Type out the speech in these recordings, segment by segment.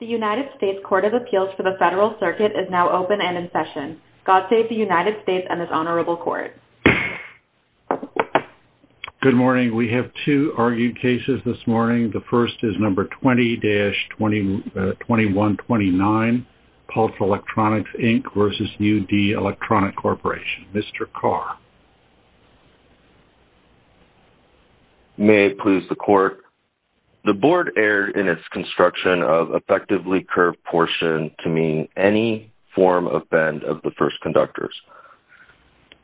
The United States Court of Appeals for the Federal Circuit is now open and in session. God save the United States and this honorable court. Good morning. We have two argued cases this morning. The first is number 20-2129, Pulse Electronics, Inc. v. U.D. Electronic Corporation. Mr. Carr. May I please the court? The board erred in its construction of effectively curved portion to mean any form of bend of the first conductors.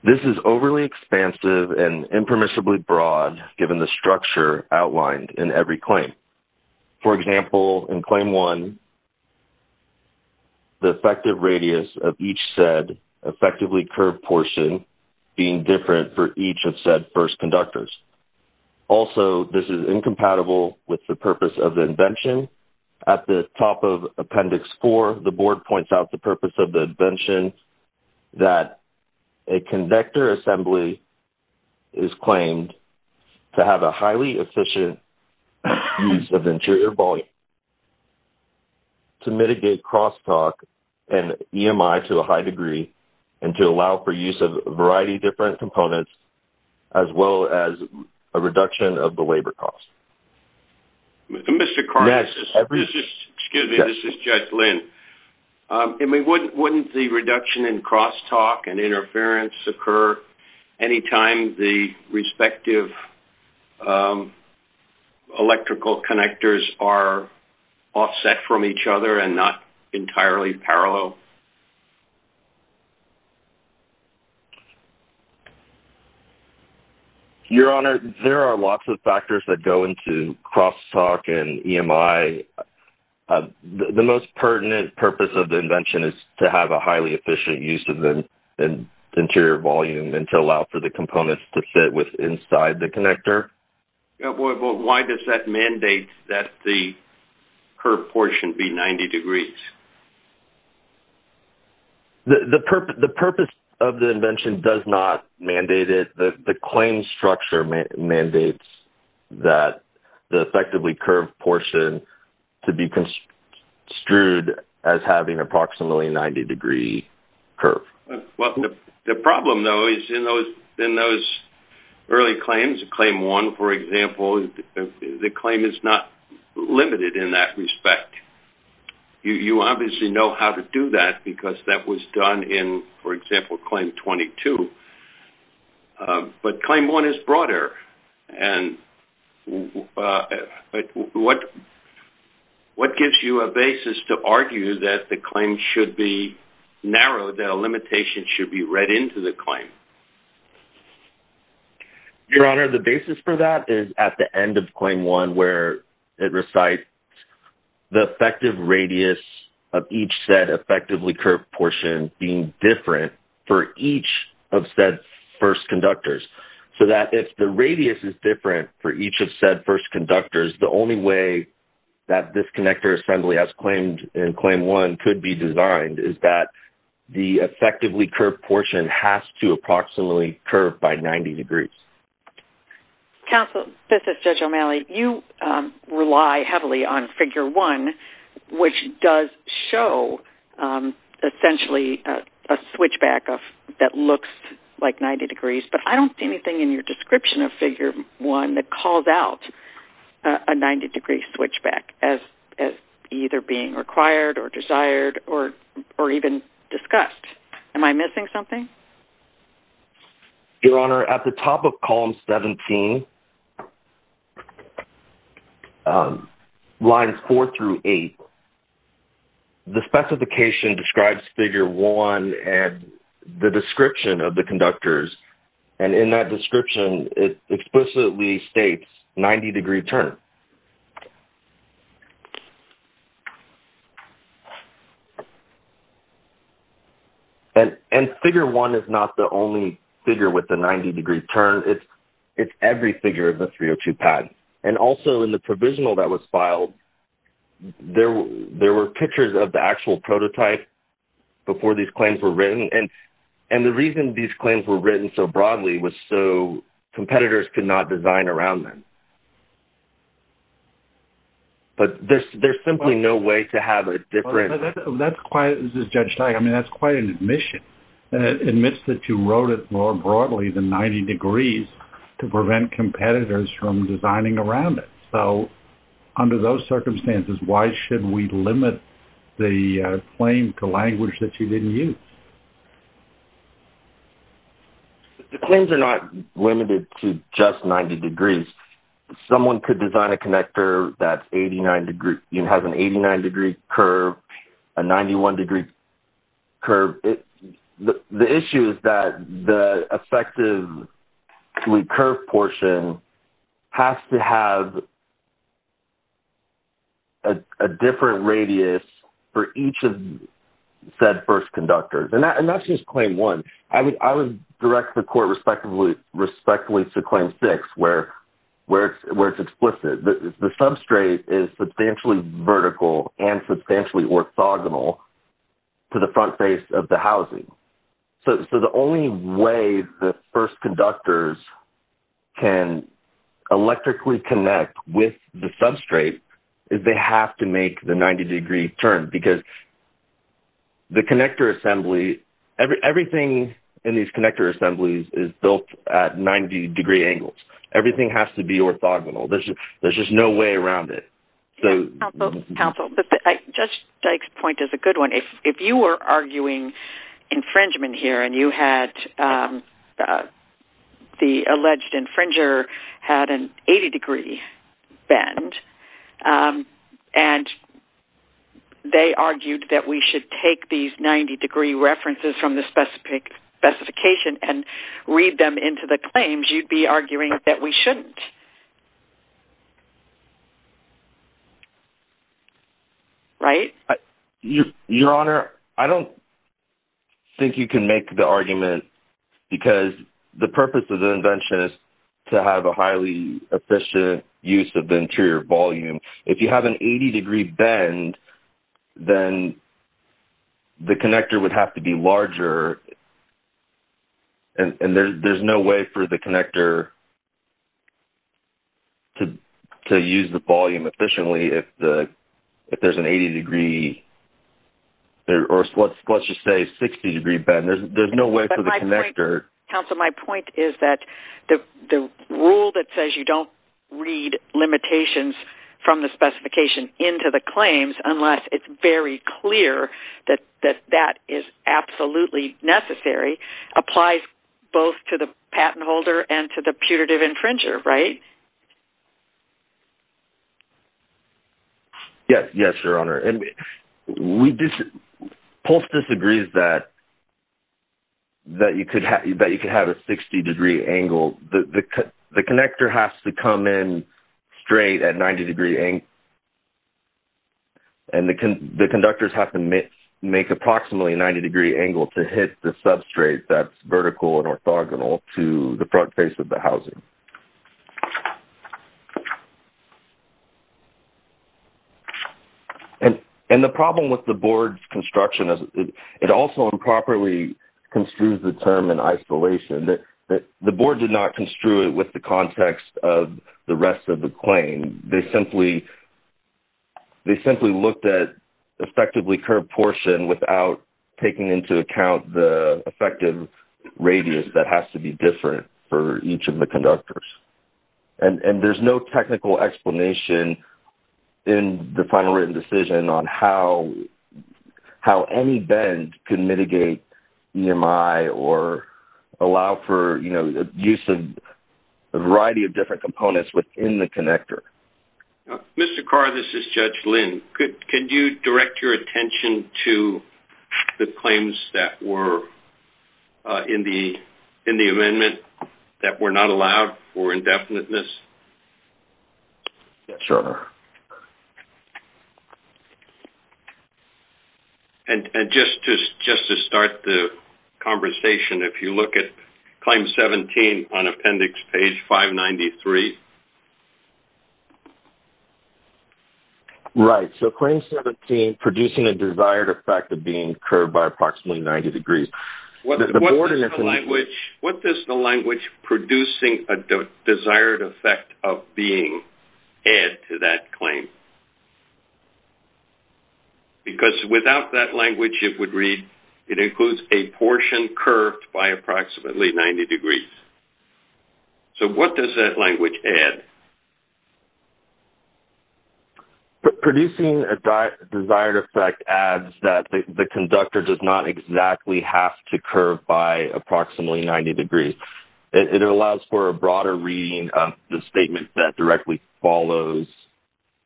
This is overly expansive and impermissibly broad given the structure outlined in every claim. For example, in claim one, the effective radius of each said effectively curved portion being different for each of said first conductors. Also, this is incompatible with the purpose of the invention. At the top of Appendix 4, the board points out the purpose of the invention that a conductor assembly is claimed to have a highly efficient use of interior volume to mitigate crosstalk and EMI to a high degree and to allow for use of a variety of different components as well as a reduction of the labor cost. Mr. Carr, excuse me, this is Judge Lynn. Wouldn't the reduction in crosstalk and interference occur any time the respective electrical connectors are offset from each other and not entirely parallel? Your Honor, there are lots of factors that go into crosstalk and EMI. The most pertinent purpose of the invention is to have a highly efficient use of the interior volume and to allow for the components to fit inside the connector. Why does that mandate that the curved portion be 90 degrees? The purpose of the invention does not mandate it. The claim structure mandates that the effectively curved portion to be construed as having approximately a 90 degree curve. The problem, though, is in those early claims, Claim 1, for example, the claim is not limited in that respect. You obviously know how to do that because that was done in, for example, Claim 22. But Claim 1 is broader. What gives you a basis to argue that the claim should be narrowed, that a limitation should be read into the claim? Your Honor, the basis for that is at the end of Claim 1 where it recites the effective radius of each said effectively curved portion being different for each of said first conductors. So that if the radius is different for each of said first conductors, the only way that this connector assembly as claimed in Claim 1 could be designed is that the effectively curved portion has to approximately curve by 90 degrees. Counsel, this is Judge O'Malley. You rely heavily on Figure 1, which does show essentially a switchback that looks like 90 degrees, but I don't see anything in your description of Figure 1 that calls out a 90 degree switchback as either being required or desired or even discussed. Am I missing something? Your Honor, at the top of Columns 17, Lines 4 through 8, the specification describes Figure 1 and the description of the conductors, and in that description it explicitly states 90 degree turn. And Figure 1 is not the only figure with the 90 degree turn. It's every figure of the 302 pad. And also in the provisional that was filed, there were pictures of the actual prototype before these claims were written, and the reason these claims were written so broadly was so competitors could not design around them. But there's simply no way to have a different... Judge, that's quite an admission. It admits that you wrote it more broadly than 90 degrees to prevent competitors from designing around it. So under those circumstances, why should we limit the claim to language that you didn't use? The claims are not limited to just 90 degrees. Someone could design a connector that has an 89 degree curve, a 91 degree curve. The issue is that the effective curve portion has to have a different radius for each of said first conductors, and that's just Claim 1. I would direct the court respectively to Claim 6 where it's explicit. The substrate is substantially vertical and substantially orthogonal to the front face of the housing. So the only way the first conductors can electrically connect with the substrate is they have to make the 90 degree turn because the connector assembly, everything in these connector assemblies is built at 90 degree angles. Everything has to be orthogonal. There's just no way around it. Counsel, Judge Dyke's point is a good one. If you were arguing infringement here and the alleged infringer had an 80 degree bend and they argued that we should take these 90 degree references from the specification and read them into the claims, you'd be arguing that we shouldn't. Right? Your Honor, I don't think you can make the argument because the purpose of the invention is to have a highly efficient use of the interior volume. If you have an 80 degree bend, then the connector would have to be larger, and there's no way for the connector to use the volume efficiently if there's an 80 degree or let's just say 60 degree bend. There's no way for the connector… …to read from the specification into the claims unless it's very clear that that is absolutely necessary, applies both to the patent holder and to the putative infringer, right? Yes, Your Honor. Pulse disagrees that you could have a 60 degree angle. The connector has to come in straight at 90 degree angle, and the conductors have to make approximately a 90 degree angle to hit the substrate that's vertical and orthogonal to the front face of the housing. And the problem with the board's construction is it also improperly construes the term in isolation. The board did not construe it with the context of the rest of the claim. They simply looked at effectively curved portion without taking into account the effective radius that has to be different for each of the conductors. And there's no technical explanation in the final written decision on how any bend can mitigate EMI or allow for, you know, use of a variety of different components within the connector. Mr. Carr, this is Judge Lynn. Could you direct your attention to the claims that were in the amendment that were not allowed for indefiniteness? Yes, Your Honor. And just to start the conversation, if you look at Claim 17 on Appendix Page 593. Right. So Claim 17, producing a desired effect of being curved by approximately 90 degrees. What does the language producing a desired effect of being add to that claim? Because without that language, it would read, it includes a portion curved by approximately 90 degrees. So what does that language add? Producing a desired effect adds that the conductor does not exactly have to curve by approximately 90 degrees. It allows for a broader reading of the statement that directly follows,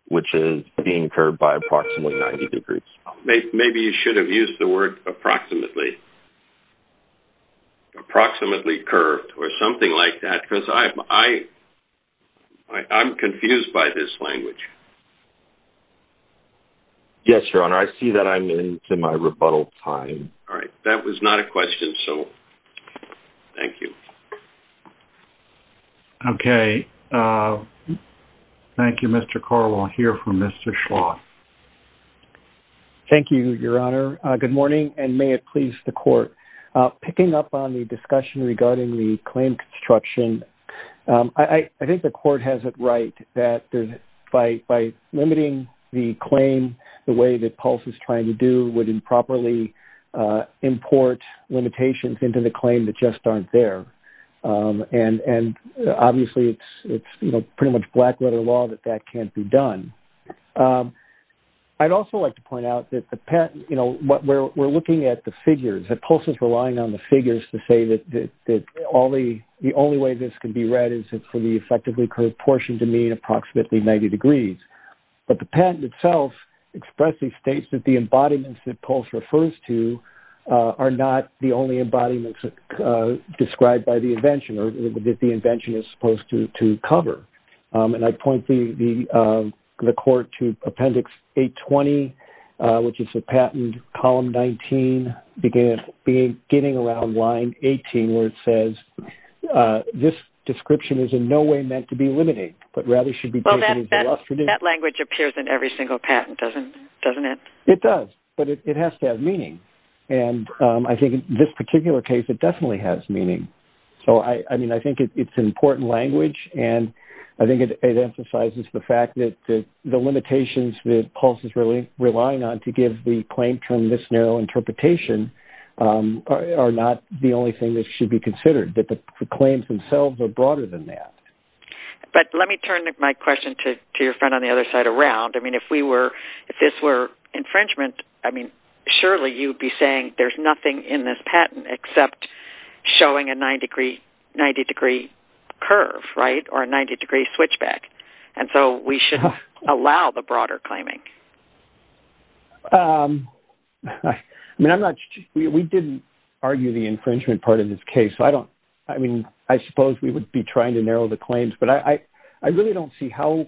which is being curved by approximately 90 degrees. Maybe you should have used the word approximately. Approximately curved or something like that. Because I'm confused by this language. Yes, Your Honor. I see that I'm into my rebuttal time. All right. That was not a question, so thank you. Okay. Thank you, Mr. Carr. We'll hear from Mr. Schloss. Thank you, Your Honor. Good morning, and may it please the Court. Picking up on the discussion regarding the claim construction, I think the Court has it right that by limiting the claim the way that PULSE is trying to do would improperly import limitations into the claim that just aren't there. And obviously, it's pretty much black-letter law that that can't be done. I'd also like to point out that we're looking at the figures, that PULSE is relying on the figures to say that the only way this can be read is for the effectively curved portion to mean approximately 90 degrees. But the patent itself expressly states that the embodiments that PULSE refers to are not the only embodiments described by the invention or that the invention is supposed to cover. And I point the Court to Appendix 820, which is the patent, Column 19, beginning around Line 18, where it says, This description is in no way meant to be eliminated, but rather should be taken as a lesson in... Well, that language appears in every single patent, doesn't it? It does, but it has to have meaning. And I think in this particular case, it definitely has meaning. So, I mean, I think it's important language, and I think it emphasizes the fact that the limitations that PULSE is relying on to give the claim from this narrow interpretation are not the only thing that should be considered, that the claims themselves are broader than that. But let me turn my question to your friend on the other side around. I mean, if this were infringement, I mean, surely you'd be saying there's nothing in this patent except showing a 90-degree curve, right, or a 90-degree switchback. And so we should allow the broader claiming. I mean, I'm not... We didn't argue the infringement part of this case, so I don't... I mean, I suppose we would be trying to narrow the claims, but I really don't see how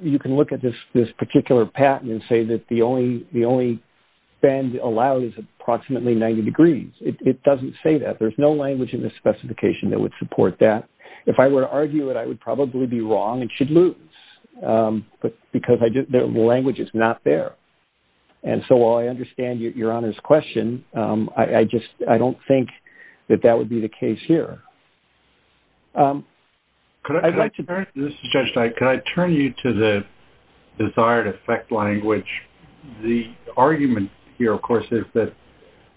you can look at this particular patent and say that the only bend allowed is approximately 90 degrees. It doesn't say that. There's no language in this specification that would support that. If I were to argue it, I would probably be wrong and should lose because the language is not there. And so while I understand Your Honor's question, I just... I don't think that that would be the case here. This is Judge Knight. Could I turn you to the desired effect language? The argument here, of course, is that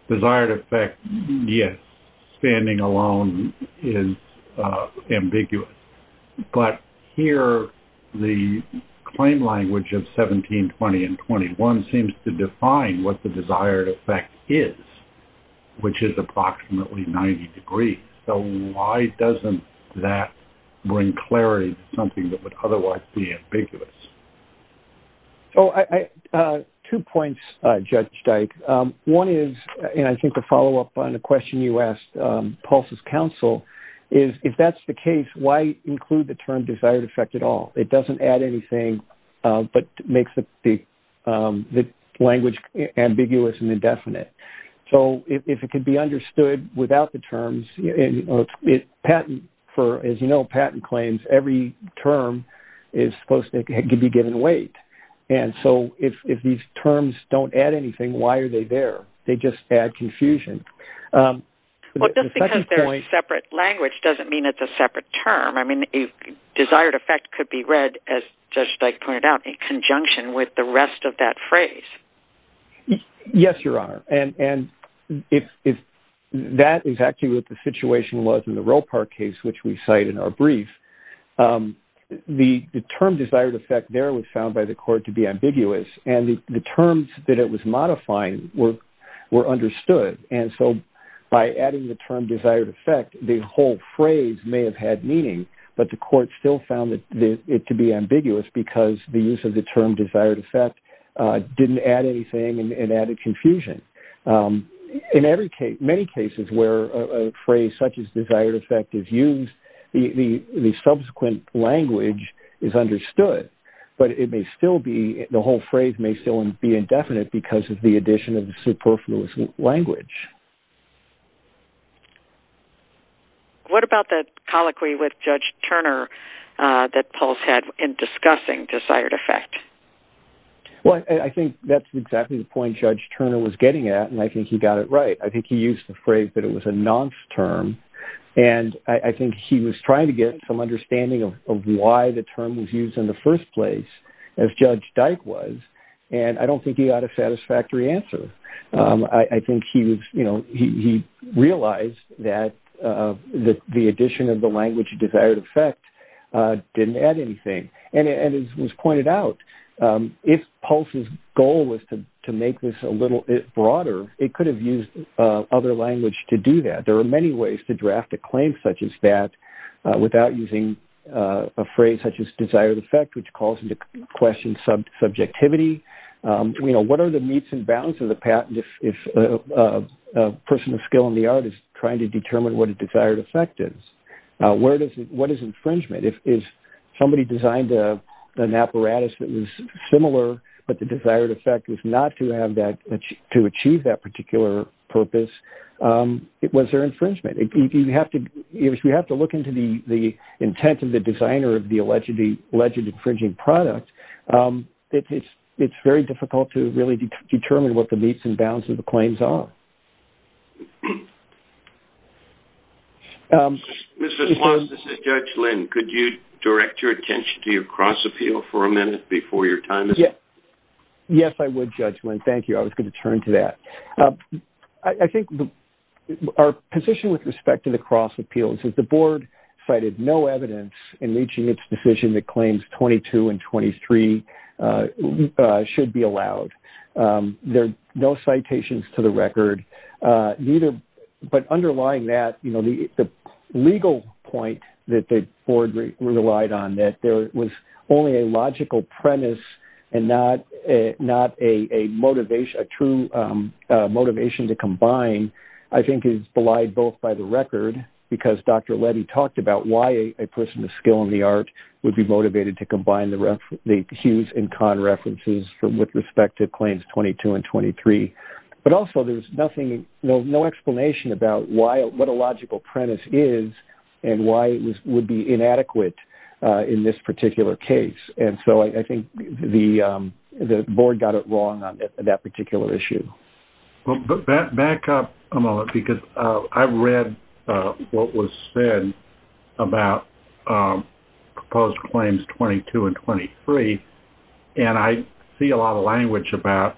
desired effect, yes, standing alone is ambiguous. But here, the claim language of 1720 and 21 seems to define what the desired effect is, which is approximately 90 degrees. So why doesn't that bring clarity to something that would otherwise be ambiguous? Two points, Judge Dyke. One is, and I think to follow up on a question you asked Paulson's counsel, is if that's the case, why include the term desired effect at all? It doesn't add anything but makes the language ambiguous and indefinite. So if it could be understood without the terms, as you know, patent claims, every term is supposed to be given weight. And so if these terms don't add anything, why are they there? They just add confusion. Well, just because they're separate language doesn't mean it's a separate term. I mean, desired effect could be read, as Judge Dyke pointed out, in conjunction with the rest of that phrase. Yes, Your Honor. And if that is actually what the situation was in the Ropar case, which we cite in our brief, the term desired effect there was found by the court to be ambiguous, and the terms that it was modifying were understood. And so by adding the term desired effect, the whole phrase may have had meaning, but the court still found it to be ambiguous because the use of the term desired effect didn't add anything and added confusion. In many cases where a phrase such as desired effect is used, the subsequent language is understood, but the whole phrase may still be indefinite because of the addition of the superfluous language. What about the colloquy with Judge Turner that Pulse had in discussing desired effect? Well, I think that's exactly the point Judge Turner was getting at, and I think he got it right. I think he used the phrase that it was a nonce term, and I think he was trying to get some understanding of why the term was used in the first place, as Judge Dyke was, and I don't think he got a satisfactory answer. I think he realized that the addition of the language desired effect didn't add anything. And as was pointed out, if Pulse's goal was to make this a little broader, it could have used other language to do that. There are many ways to draft a claim such as that without using a phrase such as desired effect, which calls into question subjectivity. What are the meets and bounds of the patent if a person of skill in the art is trying to determine what a desired effect is? What is infringement? If somebody designed an apparatus that was similar, but the desired effect was not to achieve that particular purpose, was there infringement? If we have to look into the intent of the designer of the alleged infringing product, it's very difficult to really determine what the meets and bounds of the claims are. Mr. Swann, this is Judge Lynn. Could you direct your attention to your cross-appeal for a minute before your time is up? Yes, I would, Judge Lynn. Thank you. I was going to turn to that. I think our position with respect to the cross-appeals is the Board cited no evidence in reaching its decision that claims 22 and 23 should be allowed. There are no citations to the record. Underlying that, the legal point that the Board relied on, that there was only a logical premise and not a true motivation to combine, I think is belied both by the record, because Dr. Leddy talked about why a person of skill in the art would be motivated to combine the Hughes and Kahn references with respect to claims 22 and 23. But also, there's no explanation about what a logical premise is and why it would be inadequate in this particular case. And so I think the Board got it wrong on that particular issue. Back up a moment, because I read what was said about proposed claims 22 and 23, and I see a lot of language about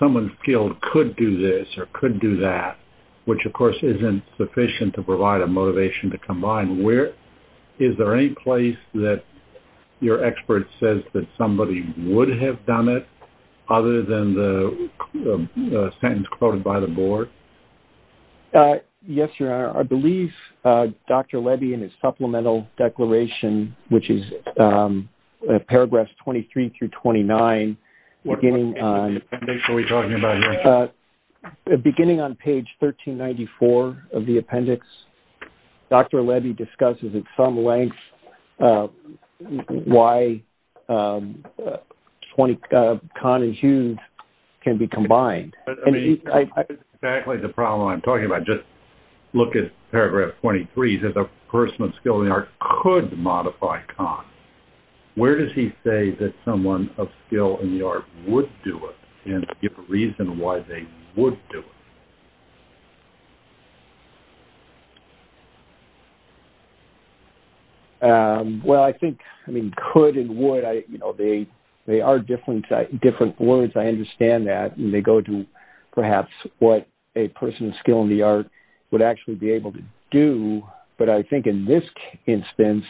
someone skilled could do this or could do that, which, of course, isn't sufficient to provide a motivation to combine. Is there any place that your expert says that somebody would have done it other than the sentence quoted by the Board? Yes, Your Honor. I believe Dr. Leddy, in his supplemental declaration, which is paragraphs 23 through 29, beginning on page 1394 of the appendix, Dr. Leddy discusses at some length why Kahn and Hughes can be combined. That's exactly the problem I'm talking about. Just look at paragraph 23. It says a person of skill in the art could modify Kahn. Where does he say that someone of skill in the art would do it and give a reason why they would do it? Well, I think could and would, they are different words. I understand that. They go to perhaps what a person of skill in the art would actually be able to do, but I think in this instance,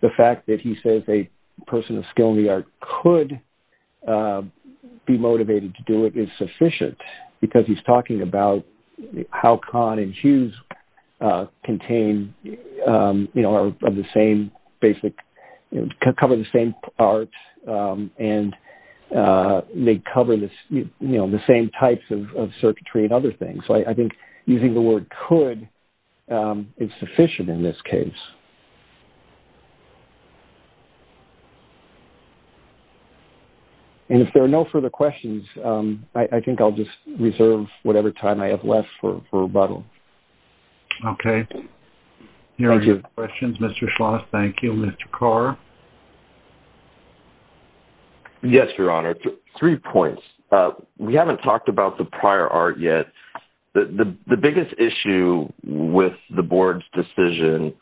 the fact that he says a person of skill in the art could be motivated to do it is sufficient, because he's talking about how Kahn and Hughes cover the same parts and they cover the same types of circuitry and other things. So I think using the word could is sufficient in this case. And if there are no further questions, I think I'll just reserve whatever time I have left for rebuttal. Okay. Thank you. Any other questions, Mr. Schloss? Thank you. Mr. Carr? Yes, Your Honor. Three points. We haven't talked about the prior art yet. The biggest issue with the Board's decision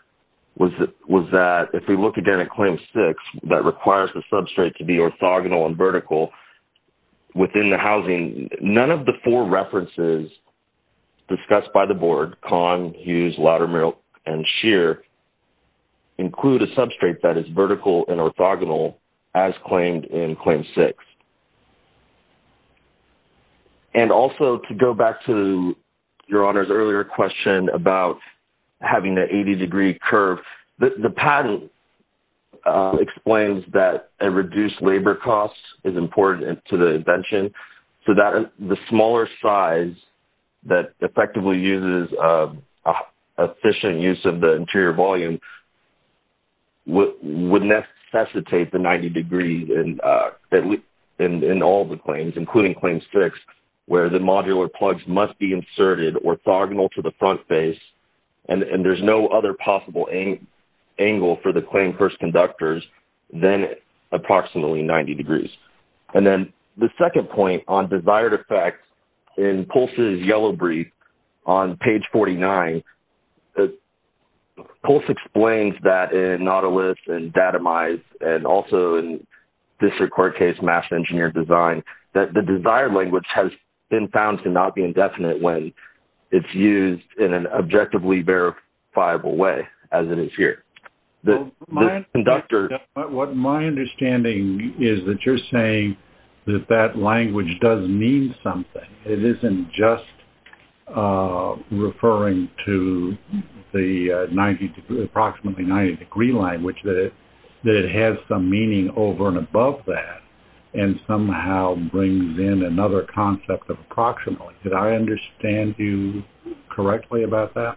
was that if we look again at Claim 6, that requires the substrate to be orthogonal and vertical within the housing, none of the four references discussed by the Board, Kahn, Hughes, Loudermilk, and Scheer, include a substrate that is vertical and orthogonal as claimed in Claim 6. And also, to go back to Your Honor's earlier question about having the 80-degree curve, the patent explains that a reduced labor cost is important to the invention, so the smaller size that effectively uses efficient use of the interior volume would necessitate the 90 degrees. And in all the claims, including Claim 6, where the modular plugs must be inserted orthogonal to the front face, and there's no other possible angle for the claim first conductors than approximately 90 degrees. And then the second point on desired effects in Pulse's yellow brief on page 49, Pulse explains that in Nautilus and Datomize and also in District Court Case Master Engineer Design, that the desired language has been found to not be indefinite when it's used in an objectively verifiable way, as it is here. My understanding is that you're saying that that language does mean something. It isn't just referring to the approximately 90-degree language, that it has some meaning over and above that and somehow brings in another concept of approximately. Did I understand you correctly about that?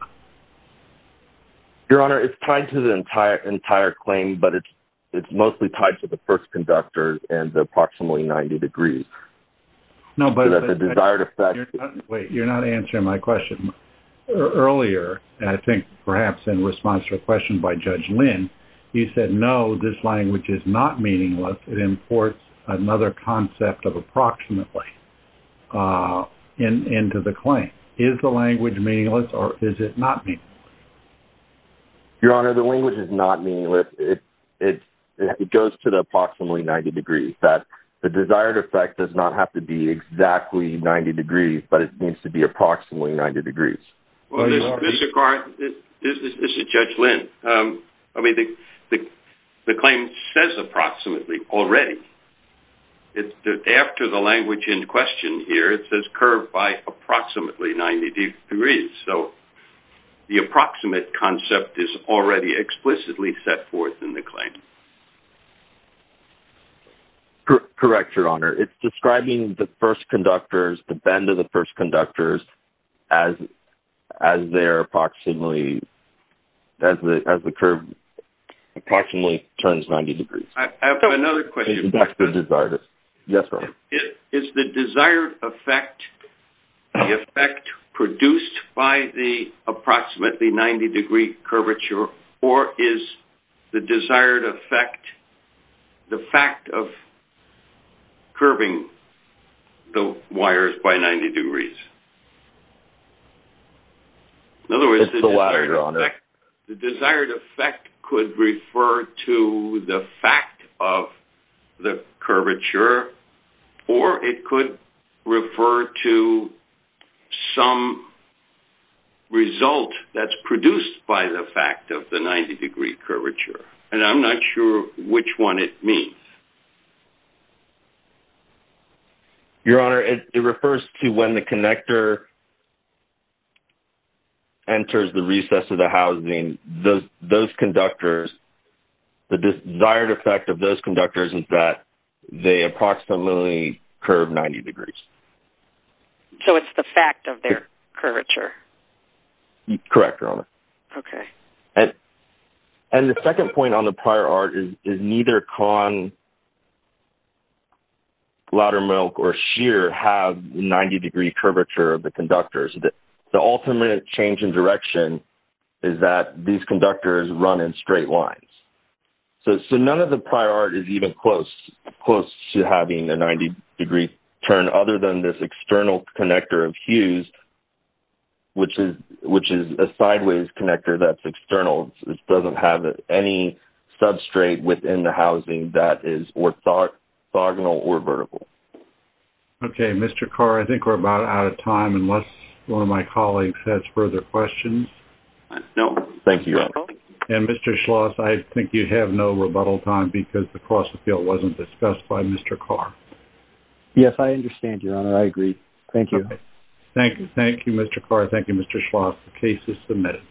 Your Honor, it's tied to the entire claim, but it's mostly tied to the first conductor and the approximately 90 degrees. No, but the desired effect... Wait, you're not answering my question. Earlier, I think perhaps in response to a question by Judge Lynn, you said, no, this language is not meaningless, it imports another concept of approximately into the claim. Is the language meaningless or is it not meaningless? Your Honor, the language is not meaningless. It goes to the approximately 90 degrees. In fact, the desired effect does not have to be exactly 90 degrees, but it needs to be approximately 90 degrees. This is Judge Lynn. I mean, the claim says approximately already. After the language in question here, it says curved by approximately 90 degrees, so the approximate concept is already explicitly set forth in the claim. Correct, Your Honor. It's describing the first conductors, the bend of the first conductors, as they're approximately, as the curve approximately turns 90 degrees. I have another question. That's the desired effect. Yes, Your Honor. Is the desired effect the effect produced by the approximately 90 degree curvature or is the desired effect the fact of curving the wires by 90 degrees? In other words, the desired effect could refer to the fact of the curvature or it could refer to some result that's produced by the fact of the 90 degree curvature, and I'm not sure which one it means. Your Honor, it refers to when the connector enters the recess of the housing, those conductors, the desired effect of those conductors is that they approximately curve 90 degrees. So it's the fact of their curvature. Correct, Your Honor. Okay. And the second point on the prior art is neither Kahn, Laudermilch, or Scheer have 90 degree curvature of the conductors. The ultimate change in direction is that these conductors run in straight lines. So none of the prior art is even close to having a 90 degree turn other than this external connector of Hughes, which is a sideways connector that's external. It doesn't have any substrate within the housing that is orthogonal or vertical. Okay. Mr. Carr, I think we're about out of time unless one of my colleagues has further questions. Thank you, Your Honor. And Mr. Schloss, I think you have no rebuttal time because the cross-appeal wasn't discussed by Mr. Carr. Yes, I understand, Your Honor. I agree. Thank you. Thank you, Mr. Carr. Thank you, Mr. Schloss. The case is submitted.